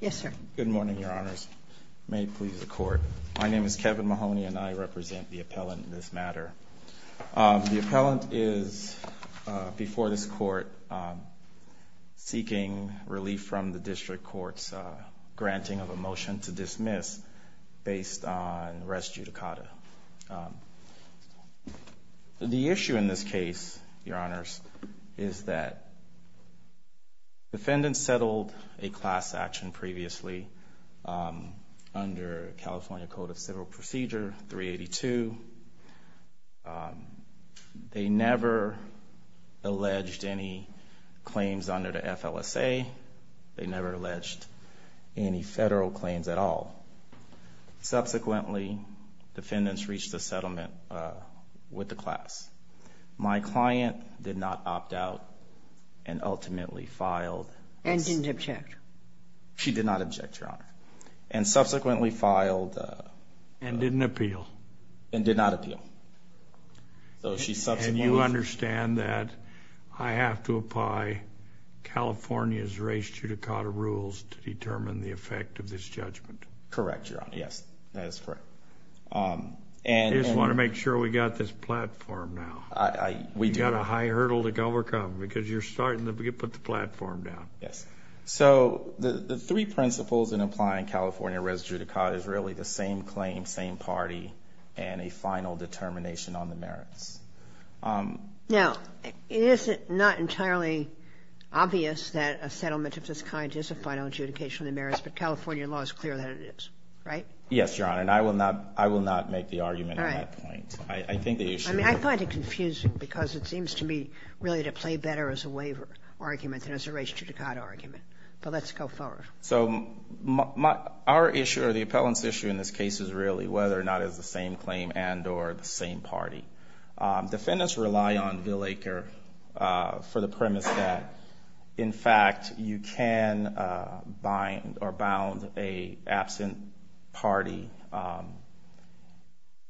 Yes, sir. Good morning, your honors. May it please the court. My name is Kevin Mahoney, and I represent the appellant in this matter. The appellant is, before this court, seeking relief from the district court's granting of a motion to dismiss based on res judicata. The issue in this case, your honors, is that defendants settled a class action previously under California Code of Civil Procedure 382. They never alleged any claims under the FLSA. They never alleged any federal claims at all. Subsequently, defendants reached a settlement with the class. My client did not opt out and ultimately filed. And didn't object. She did not object, your honor. And subsequently filed. And didn't appeal. And did not appeal. So she subsequently. And you understand that I have to apply California's res judicata rules to determine the effect of this judgment. Correct, your honor. Yes, that is correct. I just want to make sure we got this platform now. We've got a high hurdle to overcome, because you're starting to put the platform down. Yes. So the three principles in applying California res judicata is really the same claim, same party, and a final determination on the merits. Now, is it not entirely obvious that a settlement of this kind is a final adjudication of the merits, but California law is clear that it is, right? Yes, your honor. And I will not make the argument at that point. I think the issue is. I find it confusing, because it seems to me really to play better as a waiver argument than as a res judicata argument. But let's go forward. So our issue, or the appellant's issue in this case is really whether or not it's the same claim and or the same party. Defendants rely on Bill Aker for the premise that, in fact, you can bind or bound a absent party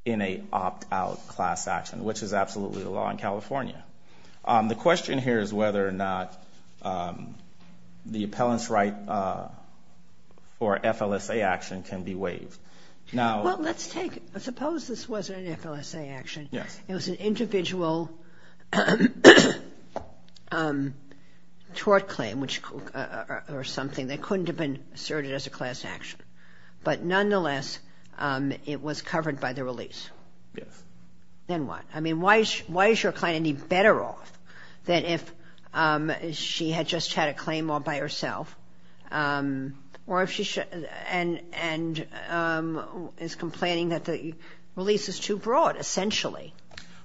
in a opt-out class action, which is absolutely the law in California. The question here is whether or not the appellant's right or FLSA action can be waived. Now. Well, let's take. Suppose this wasn't an FLSA action. Yes. It was an individual tort claim or something that couldn't have been asserted as a class action. But nonetheless, it was covered by the release. Yes. Then what? I mean, why is your client any better off than if she had just had a claim all by herself or if she is complaining that the release is too broad, essentially?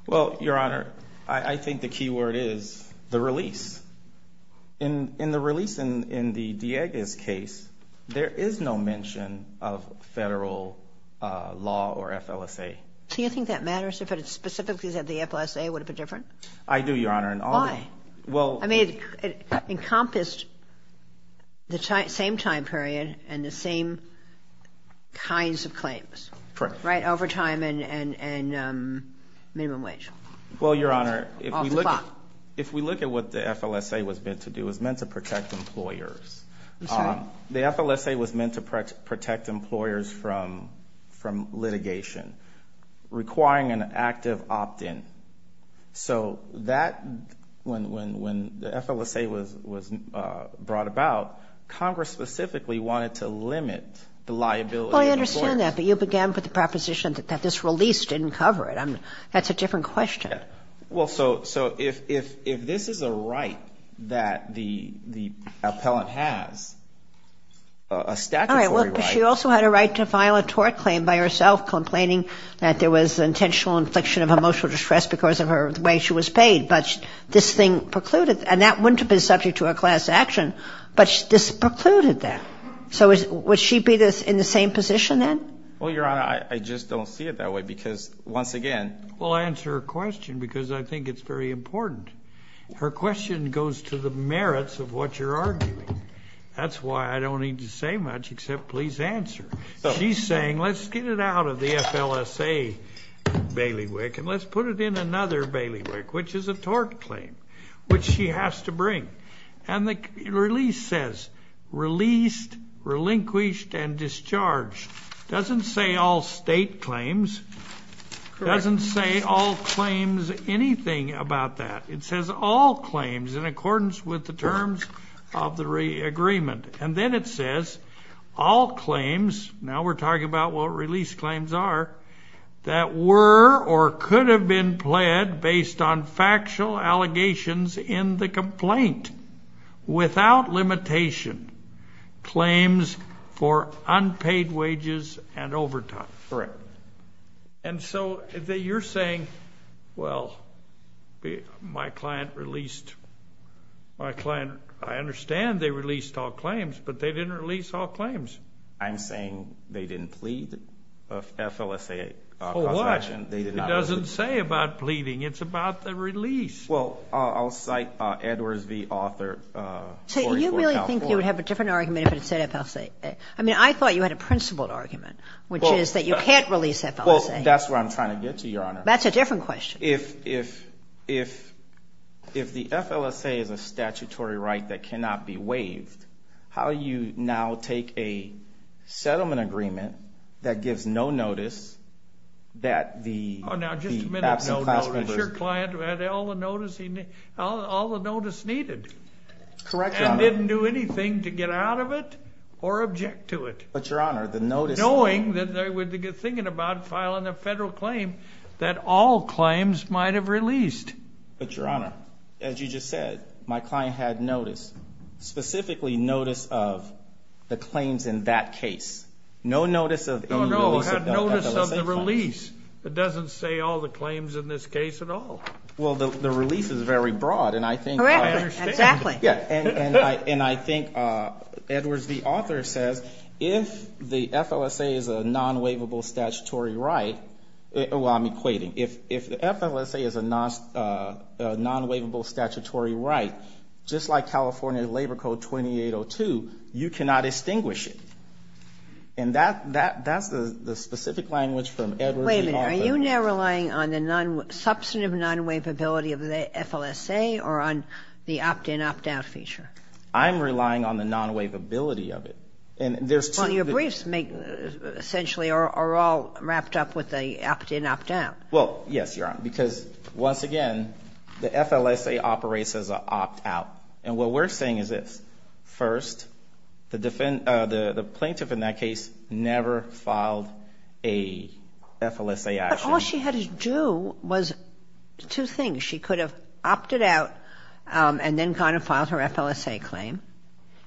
Well, Your Honor, I think the key word is the release. In the release in the Diegas case, there is no mention of federal law or FLSA. So you think that matters? If it's specifically that the FLSA would have been different? I do, Your Honor. Why? Well. I mean, it encompassed the same time period and the same kinds of claims, right? Overtime and minimum wage. Well, Your Honor, if we look at what the FLSA was meant to do, it was meant to protect employers. The FLSA was meant to protect employers from litigation requiring an active opt-in. So when the FLSA was brought about, Congress specifically wanted to limit the liability. Well, I understand that. But you began with the proposition that this release didn't cover it. That's a different question. Well, so if this is a right that the appellant has, a statutory right. All right, well, but she also had a right to file a tort claim by herself, complaining that there was intentional infliction of emotional distress because of the way she was paid. But this thing precluded. And that wouldn't have been subject to a class action. But this precluded that. So would she be in the same position then? Well, Your Honor, I just don't see it that way. Because once again. Well, I answer her question because I think it's very important. Her question goes to the merits of what you're arguing. That's why I don't need to say much except please answer. She's saying, let's get it out of the FLSA bailiwick. And let's put it in another bailiwick, which is a tort claim, which she has to bring. And the release says, released, relinquished, and discharged. Doesn't say all state claims. Doesn't say all claims anything about that. It says all claims in accordance with the terms of the agreement. And then it says, all claims. Now we're talking about what release claims are. That were or could have been pled based on factual allegations in the complaint without limitation. Claims for unpaid wages and overtime. Correct. And so you're saying, well, my client released. My client, I understand they released all claims. But they didn't release all claims. I'm saying they didn't plead FLSA. Oh, what? It doesn't say about pleading. It's about the release. Well, I'll cite Edwards, the author. So you really think you would have a different argument if it said FLSA? I mean, I thought you had a principled argument, which is that you can't release FLSA. That's what I'm trying to get to, Your Honor. That's a different question. If the FLSA is a statutory right that cannot be waived, how you now take a settlement agreement that gives no notice that the absent class members. Oh, now, just a minute, no notice. Your client had all the notice needed. Correct, Your Honor. And didn't do anything to get out of it or object to it. But, Your Honor, the notice. Knowing that they would be thinking about filing a federal claim that all claims might have released. But, Your Honor, as you just said, of the claims in that case. No notice of any notice of FLSA. No notice of the release. It doesn't say all the claims in this case at all. Well, the release is very broad. And I think. Correct. Exactly. Yeah. And I think, Edwards, the author says, if the FLSA is a non-waivable statutory right, well, I'm equating. If the FLSA is a non-waivable statutory right, just like California Labor Code 2802, you cannot extinguish it. And that's the specific language from Edwards, the author. Wait a minute. Are you now relying on the substantive non-waivability of the FLSA or on the opt-in, opt-out feature? I'm relying on the non-waivability of it. And there's two. Well, your briefs, essentially, are all wrapped up with the opt-in, opt-out. Well, yes, Your Honor. Because, once again, the FLSA operates as an opt-out. And what we're saying is this. First, the plaintiff, in that case, never filed a FLSA action. But all she had to do was two things. She could have opted out and then gone and filed her FLSA claim.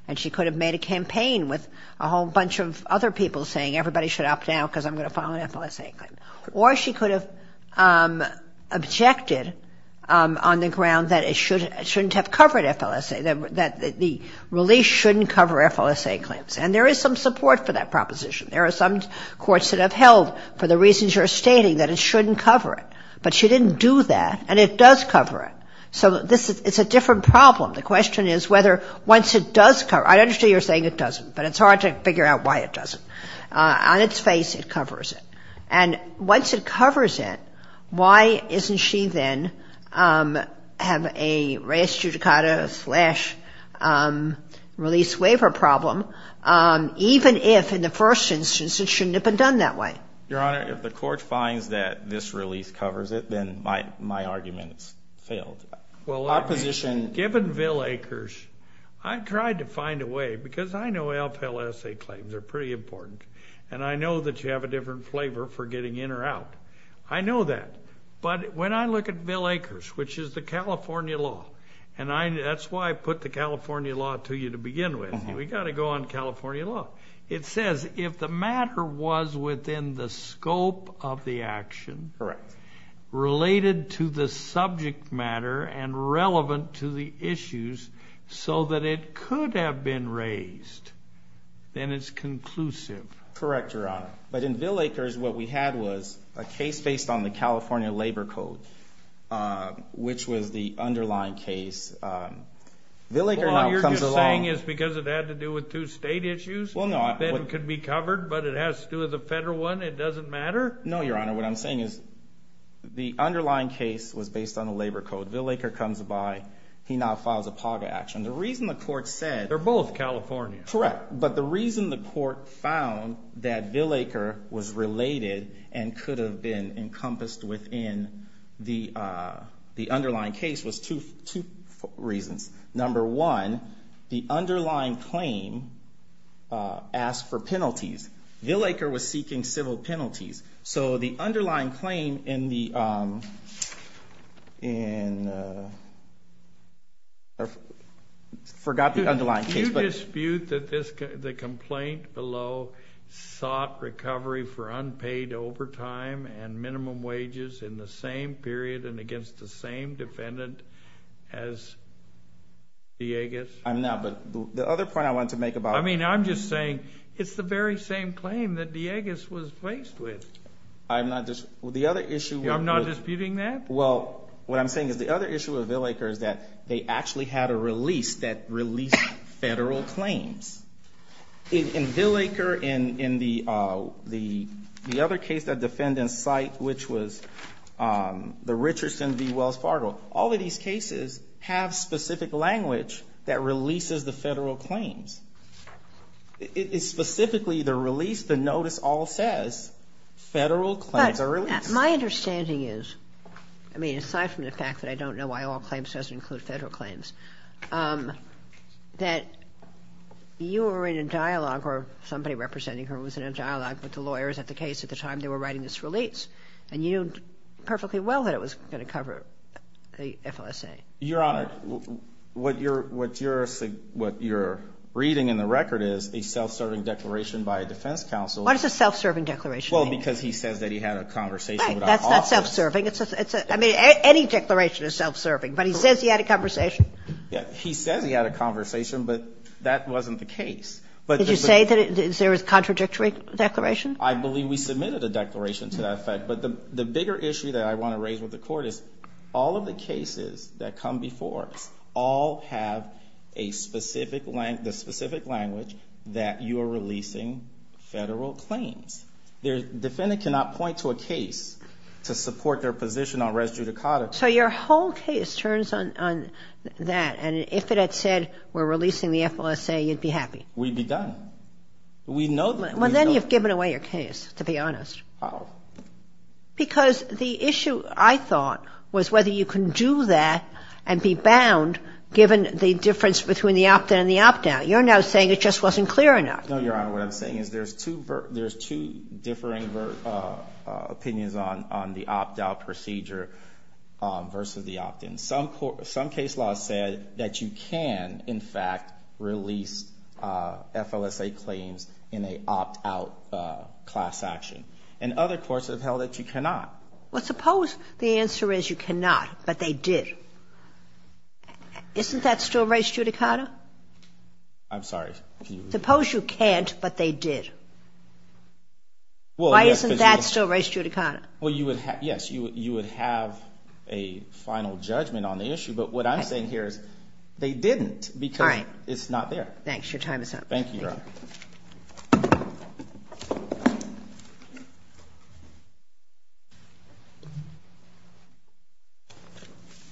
And she could have made a campaign with a whole bunch of other people saying, everybody should opt out because I'm going to file an FLSA. Or she could have objected on the ground that it shouldn't have covered FLSA, that the release shouldn't cover FLSA claims. And there is some support for that proposition. There are some courts that have held, for the reasons you're stating, that it shouldn't cover it. But she didn't do that. And it does cover it. So it's a different problem. The question is whether, once it does cover it. I understand you're saying it doesn't. But it's hard to figure out why it doesn't. On its face, it covers it. And once it covers it, why isn't she then have a res judicata slash release waiver problem, even if, in the first instance, it shouldn't have been done that way? Your Honor, if the court finds that this release covers it, then my argument is failed. Well, given Bill Akers, I tried to find a way. Because I know FLSA claims are pretty important. And I know that you have a different flavor for getting in or out. I know that. But when I look at Bill Akers, which is the California law. And that's why I put the California law to you to begin with. We've got to go on California law. It says, if the matter was within the scope of the action, related to the subject matter, and relevant to the issues, so that it could have been raised, then it's conclusive. Correct, Your Honor. But in Bill Akers, what we had was a case based on the California labor code, which was the underlying case. Bill Akers now comes along. All you're saying is because it had to do with two state issues, then it could be covered. But it has to do with a federal one. It doesn't matter? No, Your Honor. What I'm saying is the underlying case was based on the labor code. Bill Akers comes by. He now files a PAGA action. The reason the court said. They're both California. Correct. But the reason the court found that Bill Akers was related and could have been encompassed within the underlying case was two reasons. Number one, the underlying claim asked for penalties. Bill Akers was seeking civil penalties. So the underlying claim in the, I forgot the underlying case. Do you dispute that the complaint below sought recovery for unpaid overtime and minimum wages in the same period and against the same defendant as Diegas? I'm not. But the other point I want to make about it. I mean, I'm just saying it's the very same claim that Diegas was faced with. I'm not disputing that. Well, what I'm saying is the other issue of Bill Akers that they actually had a release that released federal claims. In Bill Akers, in the other case that defendants cite, which was the Richardson v. Wells Fargo, all of these cases have specific language that releases the federal claims. It's specifically the release. The notice all says federal claims are released. My understanding is, I mean, aside from the fact that I don't know why all claims doesn't include federal claims, that you were in a dialogue, or somebody representing her was in a dialogue with the lawyers at the case at the time they were writing this release. And you knew perfectly well that it was going to cover the FLSA. Your Honor, what you're reading in the record is a self-serving declaration by a defense counsel. What does a self-serving declaration mean? Well, because he says that he had a conversation with a law firm. Right, that's not self-serving. I mean, any declaration is self-serving. But he says he had a conversation. Yeah, he says he had a conversation, but that wasn't the case. Did you say that there was a contradictory declaration? I believe we submitted a declaration to that effect. But the bigger issue that I want to raise with the Court is all of the cases that come before us all have the specific language that you are releasing federal claims. Defendant cannot point to a case to support their position on res judicata. So your whole case turns on that. And if it had said, we're releasing the FLSA, you'd be happy? We'd be done. We'd know that. Well, then you've given away your case, to be honest. How? Because the issue, I thought, was whether you can do that and be bound, given the difference between the opt-in and the opt-out. You're now saying it just wasn't clear enough. No, Your Honor, what I'm saying is there's two differing opinions on the opt-out procedure. Versus the opt-in. Some case law said that you can, in fact, release FLSA claims in a opt-out class action. And other courts have held that you cannot. Well, suppose the answer is you cannot, but they did. Isn't that still res judicata? I'm sorry. Suppose you can't, but they did. Why isn't that still res judicata? Well, yes, you would have a final judgment on the issue. But what I'm saying here is they didn't, because it's not there. Thanks. Your time is up. Thank you, Your Honor.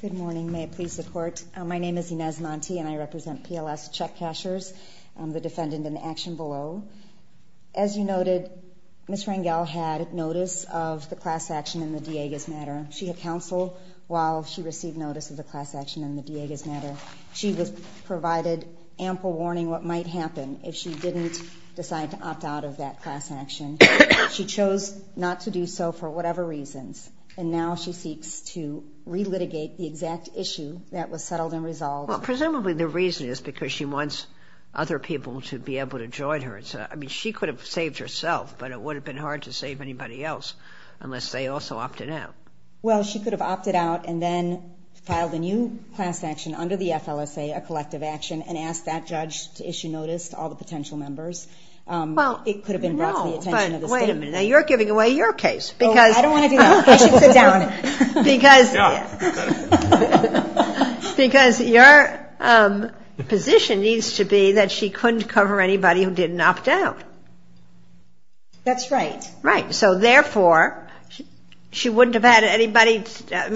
Good morning. May it please the Court. My name is Inez Monti, and I represent PLS Check Cashers. I'm the defendant in action below. As you noted, Ms. Rangel had notice of the class action in the Diegas matter. She had counsel while she received notice of the class action in the Diegas matter. She was provided ample warning what might happen if she didn't decide to opt out of that class action. She chose not to do so for whatever reasons. And now she seeks to re-litigate the exact issue that was settled and resolved. Well, presumably the reason is because she wants other people to be able to join her. She could have saved herself, but it would have been hard to save anybody else unless they also opted out. Well, she could have opted out and then filed a new class action under the FLSA, a collective action, and asked that judge to issue notice to all the potential members. It could have been brought to the attention of the state. Wait a minute. You're giving away your case. I don't want to do that. I should sit down. Because your position needs to be that she couldn't cover anybody who didn't opt out. That's right. Right. So therefore, she wouldn't have had anybody,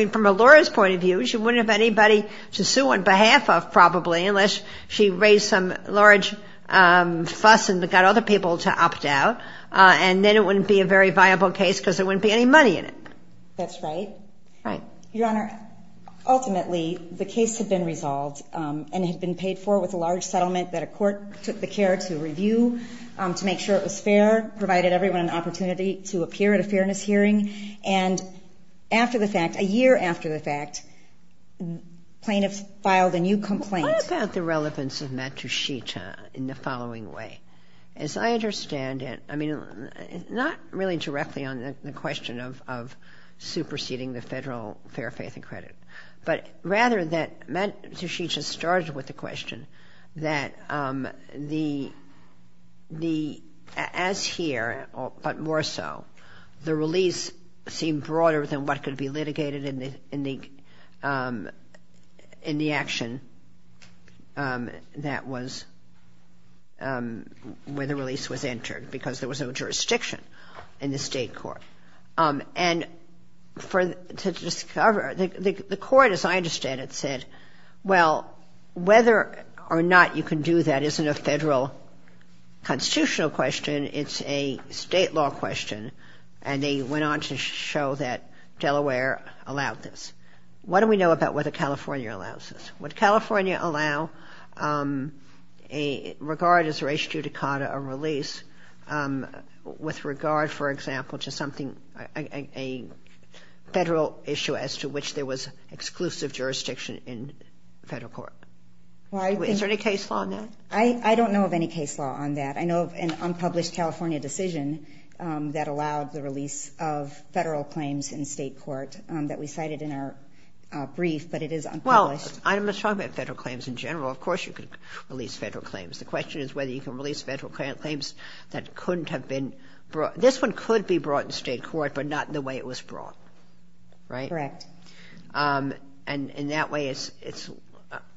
from a lawyer's point of view, she wouldn't have anybody to sue on behalf of, probably, unless she raised some large fuss and got other people to opt out. And then it wouldn't be a very viable case because there wouldn't be any money in it. That's right. Your Honor, ultimately, the case had been resolved and had been paid for with a large settlement that a court took the care to review to make sure it was fair, provided everyone an opportunity to appear at a fairness hearing. And after the fact, a year after the fact, plaintiffs filed a new complaint. What about the relevance of Matt Tushita in the following way? As I understand it, not really directly on the question of superseding the federal fair faith and credit, but rather that Matt Tushita started with the question that, as here, but more so, the release seemed broader than what could be litigated in the action where the release was entered because there was no jurisdiction in the state court. And to discover, the court, as I understand it, said, well, whether or not you can do that isn't a federal constitutional question. It's a state law question. And they went on to show that Delaware allowed this. What do we know about whether California allows this? Would California allow, regard as ratio to CADA, a release with regard, for example, to something, a federal issue as to which there was exclusive jurisdiction in federal court? Is there any case law on that? I don't know of any case law on that. I know of an unpublished California decision that allowed the release of federal claims in state court that we cited in our brief, but it is unpublished. Well, I'm not talking about federal claims in general. Of course, you could release federal claims. The question is whether you can release federal claims that couldn't have been brought, this one could be brought in state court, but not the way it was brought. Right? Correct. And in that way, it's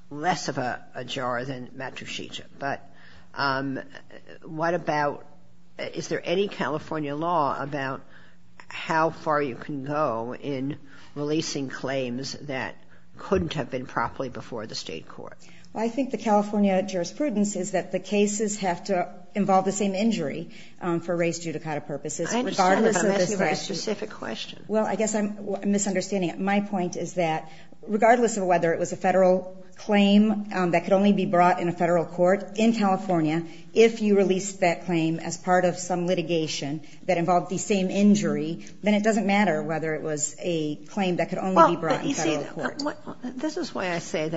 less of a jar than Matrusica. But what about, is there any California law about how far you can go in releasing claims that couldn't have been properly before the state court? Well, I think the California jurisprudence is that the cases have to involve the same injury for race due to CADA purposes. I understand, but I'm asking a specific question. Well, I guess I'm misunderstanding. My point is that regardless of whether it was a federal claim that could only be brought in a federal court in California, if you release that claim as part of some litigation that involved the same injury, then it doesn't matter whether it was a claim that could only be brought in federal court. This is why I say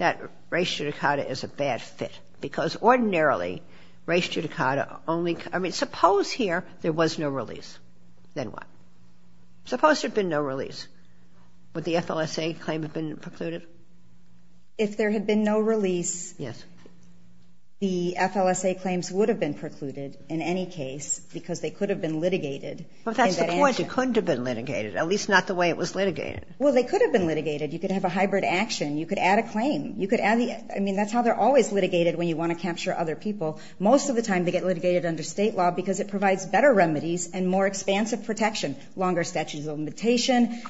that race due to CADA is a bad fit, because ordinarily, race due to CADA only, I mean, suppose here there was no release. Then what? Suppose there'd been no release. Would the FLSA claim have been precluded? If there had been no release, the FLSA claims would have been precluded in any case because they could have been litigated. Well, that's the point. It couldn't have been litigated, at least not the way it was litigated. Well, they could have been litigated. You could have a hybrid action. You could add a claim. You could add the, I mean, that's how they're always litigated when you want to capture other people. Most of the time, they get litigated under state law because it provides better protection, longer statute of limitation,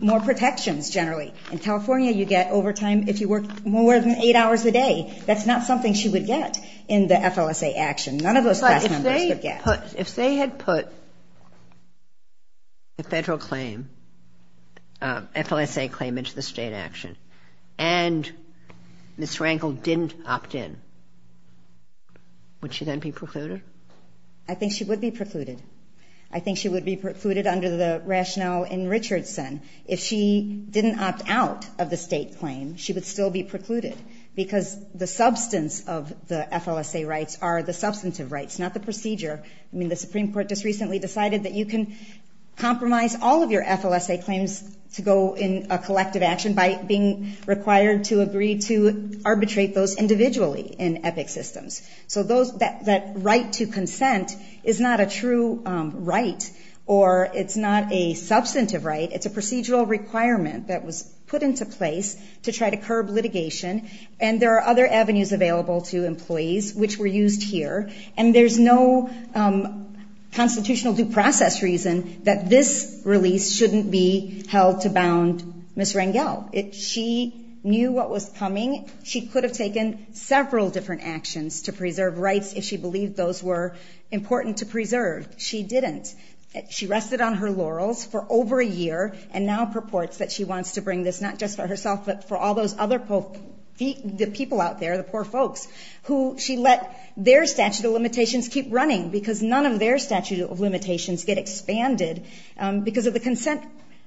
more protections, generally. In California, you get overtime if you work more than eight hours a day. That's not something she would get in the FLSA action. None of those class numbers would get. If they had put the federal claim, FLSA claim into the state action, and Ms. Rankle didn't opt in, would she then be precluded? I think she would be precluded. I think she would be precluded under the rationale in Richardson. If she didn't opt out of the state claim, she would still be precluded because the substance of the FLSA rights are the substantive rights, not the procedure. I mean, the Supreme Court just recently decided that you can compromise all of your FLSA claims to go in a collective action by being required to agree to arbitrate those individually in EPIC systems. So that right to consent is not a true right or it's not a substantive right. It's a procedural requirement that was put into place to try to curb litigation. And there are other avenues available to employees which were used here. And there's no constitutional due process reason that this release shouldn't be held to bound Ms. Rankle. She knew what was coming. She could have taken several different actions to preserve rights if she believed those were important to preserve. She didn't. She rested on her laurels for over a year and now purports that she wants to bring this, not just for herself, but for all those other people out there, the poor folks, who she let their statute of limitations keep running because none of their statute of limitations get expanded because of the consent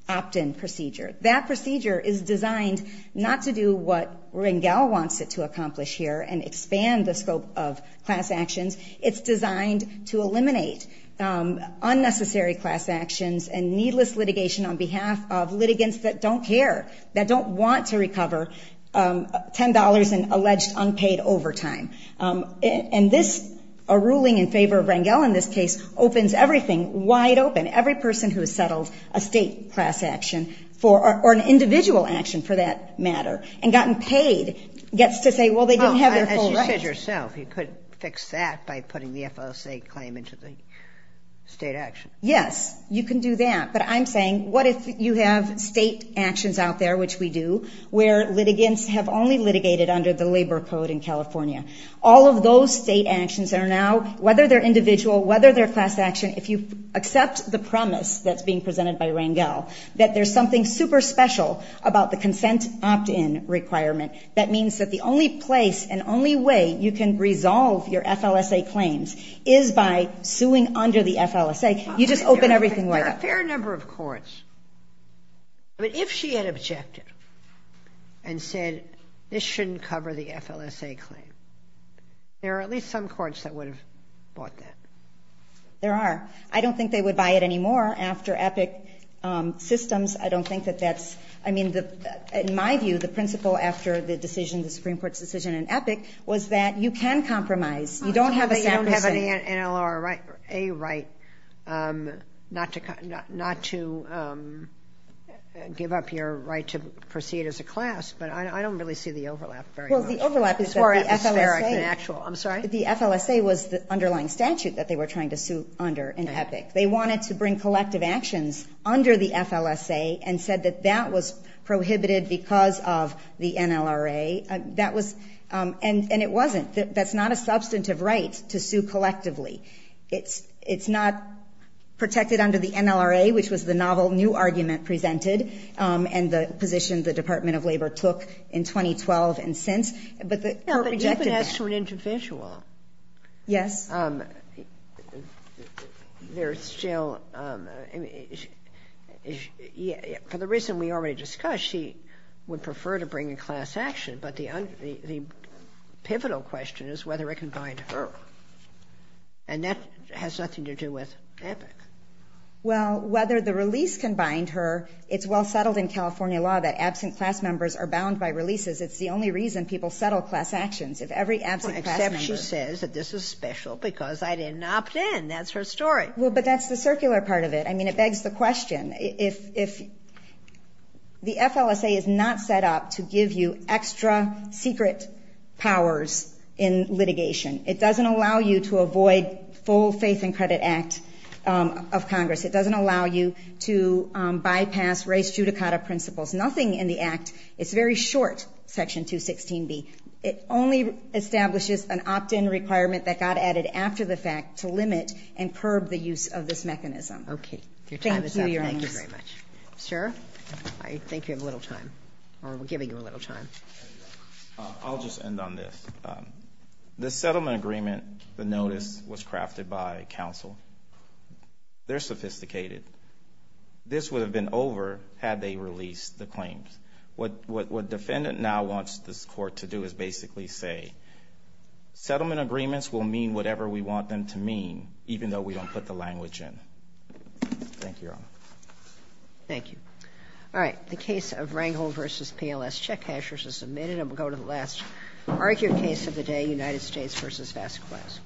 opt-in procedure. That procedure is designed not to do what Rankle wants it to accomplish here and expand the scope of class actions. It's designed to eliminate unnecessary class actions and needless litigation on behalf of litigants that don't care, that don't want to recover $10 in alleged unpaid overtime. And this, a ruling in favor of Rankle in this case, opens everything wide open, every person who has settled a state class action, or an individual action for that matter, and gotten paid, gets to say, well, they didn't have their full right. As you said yourself, you could fix that by putting the FSA claim into the state action. Yes, you can do that. But I'm saying, what if you have state actions out there, which we do, where litigants have only litigated under the labor code in California? All of those state actions are now, whether they're individual, whether they're And so, if you have a new promise that's being presented by Rankle, that there's something super special about the consent opt-in requirement, that means that the only place and only way you can resolve your FLSA claims is by suing under the FLSA. You just open everything wide up. There are a fair number of courts, but if she had objected and said, this shouldn't cover the FLSA claim, there are at least some courts that would have bought that. There are. I don't think they would buy it anymore after EPIC systems. I don't think that that's, I mean, in my view, the principle after the decision, the Supreme Court's decision in EPIC, was that you can compromise. You don't have a sacrosanct. You don't have an NLRA right not to give up your right to proceed as a class. But I don't really see the overlap very much. Well, the overlap is that the FLSA was the underlying statute, that they were trying to sue under in EPIC. They wanted to bring collective actions under the FLSA and said that that was prohibited because of the NLRA. That was, and it wasn't. That's not a substantive right to sue collectively. It's not protected under the NLRA, which was the novel new argument presented and the position the Department of Labor took in 2012 and since. But the court rejected that. But you've been asked for an intervention law. Yes. There's still, for the reason we already discussed, she would prefer to bring a class action, but the pivotal question is whether it can bind her. And that has nothing to do with EPIC. Well, whether the release can bind her, it's well settled in California law that absent class members are bound by releases. It's the only reason people settle class actions. If every absent class members. This is special because I didn't opt in. That's her story. Well, but that's the circular part of it. I mean, it begs the question. If the FLSA is not set up to give you extra secret powers in litigation, it doesn't allow you to avoid full faith and credit act of Congress. It doesn't allow you to bypass race judicata principles. Nothing in the act. It's very short. Section 216B. It only establishes an opt-in requirement that got added after the fact to limit and curb the use of this mechanism. Okay. Your time is up. Thank you very much. Sir, I think you have a little time or we're giving you a little time. I'll just end on this. The settlement agreement, the notice was crafted by counsel. They're sophisticated. This would have been over had they released the claims. What defendant now wants this court to do is basically say, settlement agreements will mean whatever we want them to mean, even though we don't put the language in. Thank you, Your Honor. Thank you. All right. The case of Rangel versus PLS check cashers is submitted. And we'll go to the last argued case of the day, United States versus Vasquez.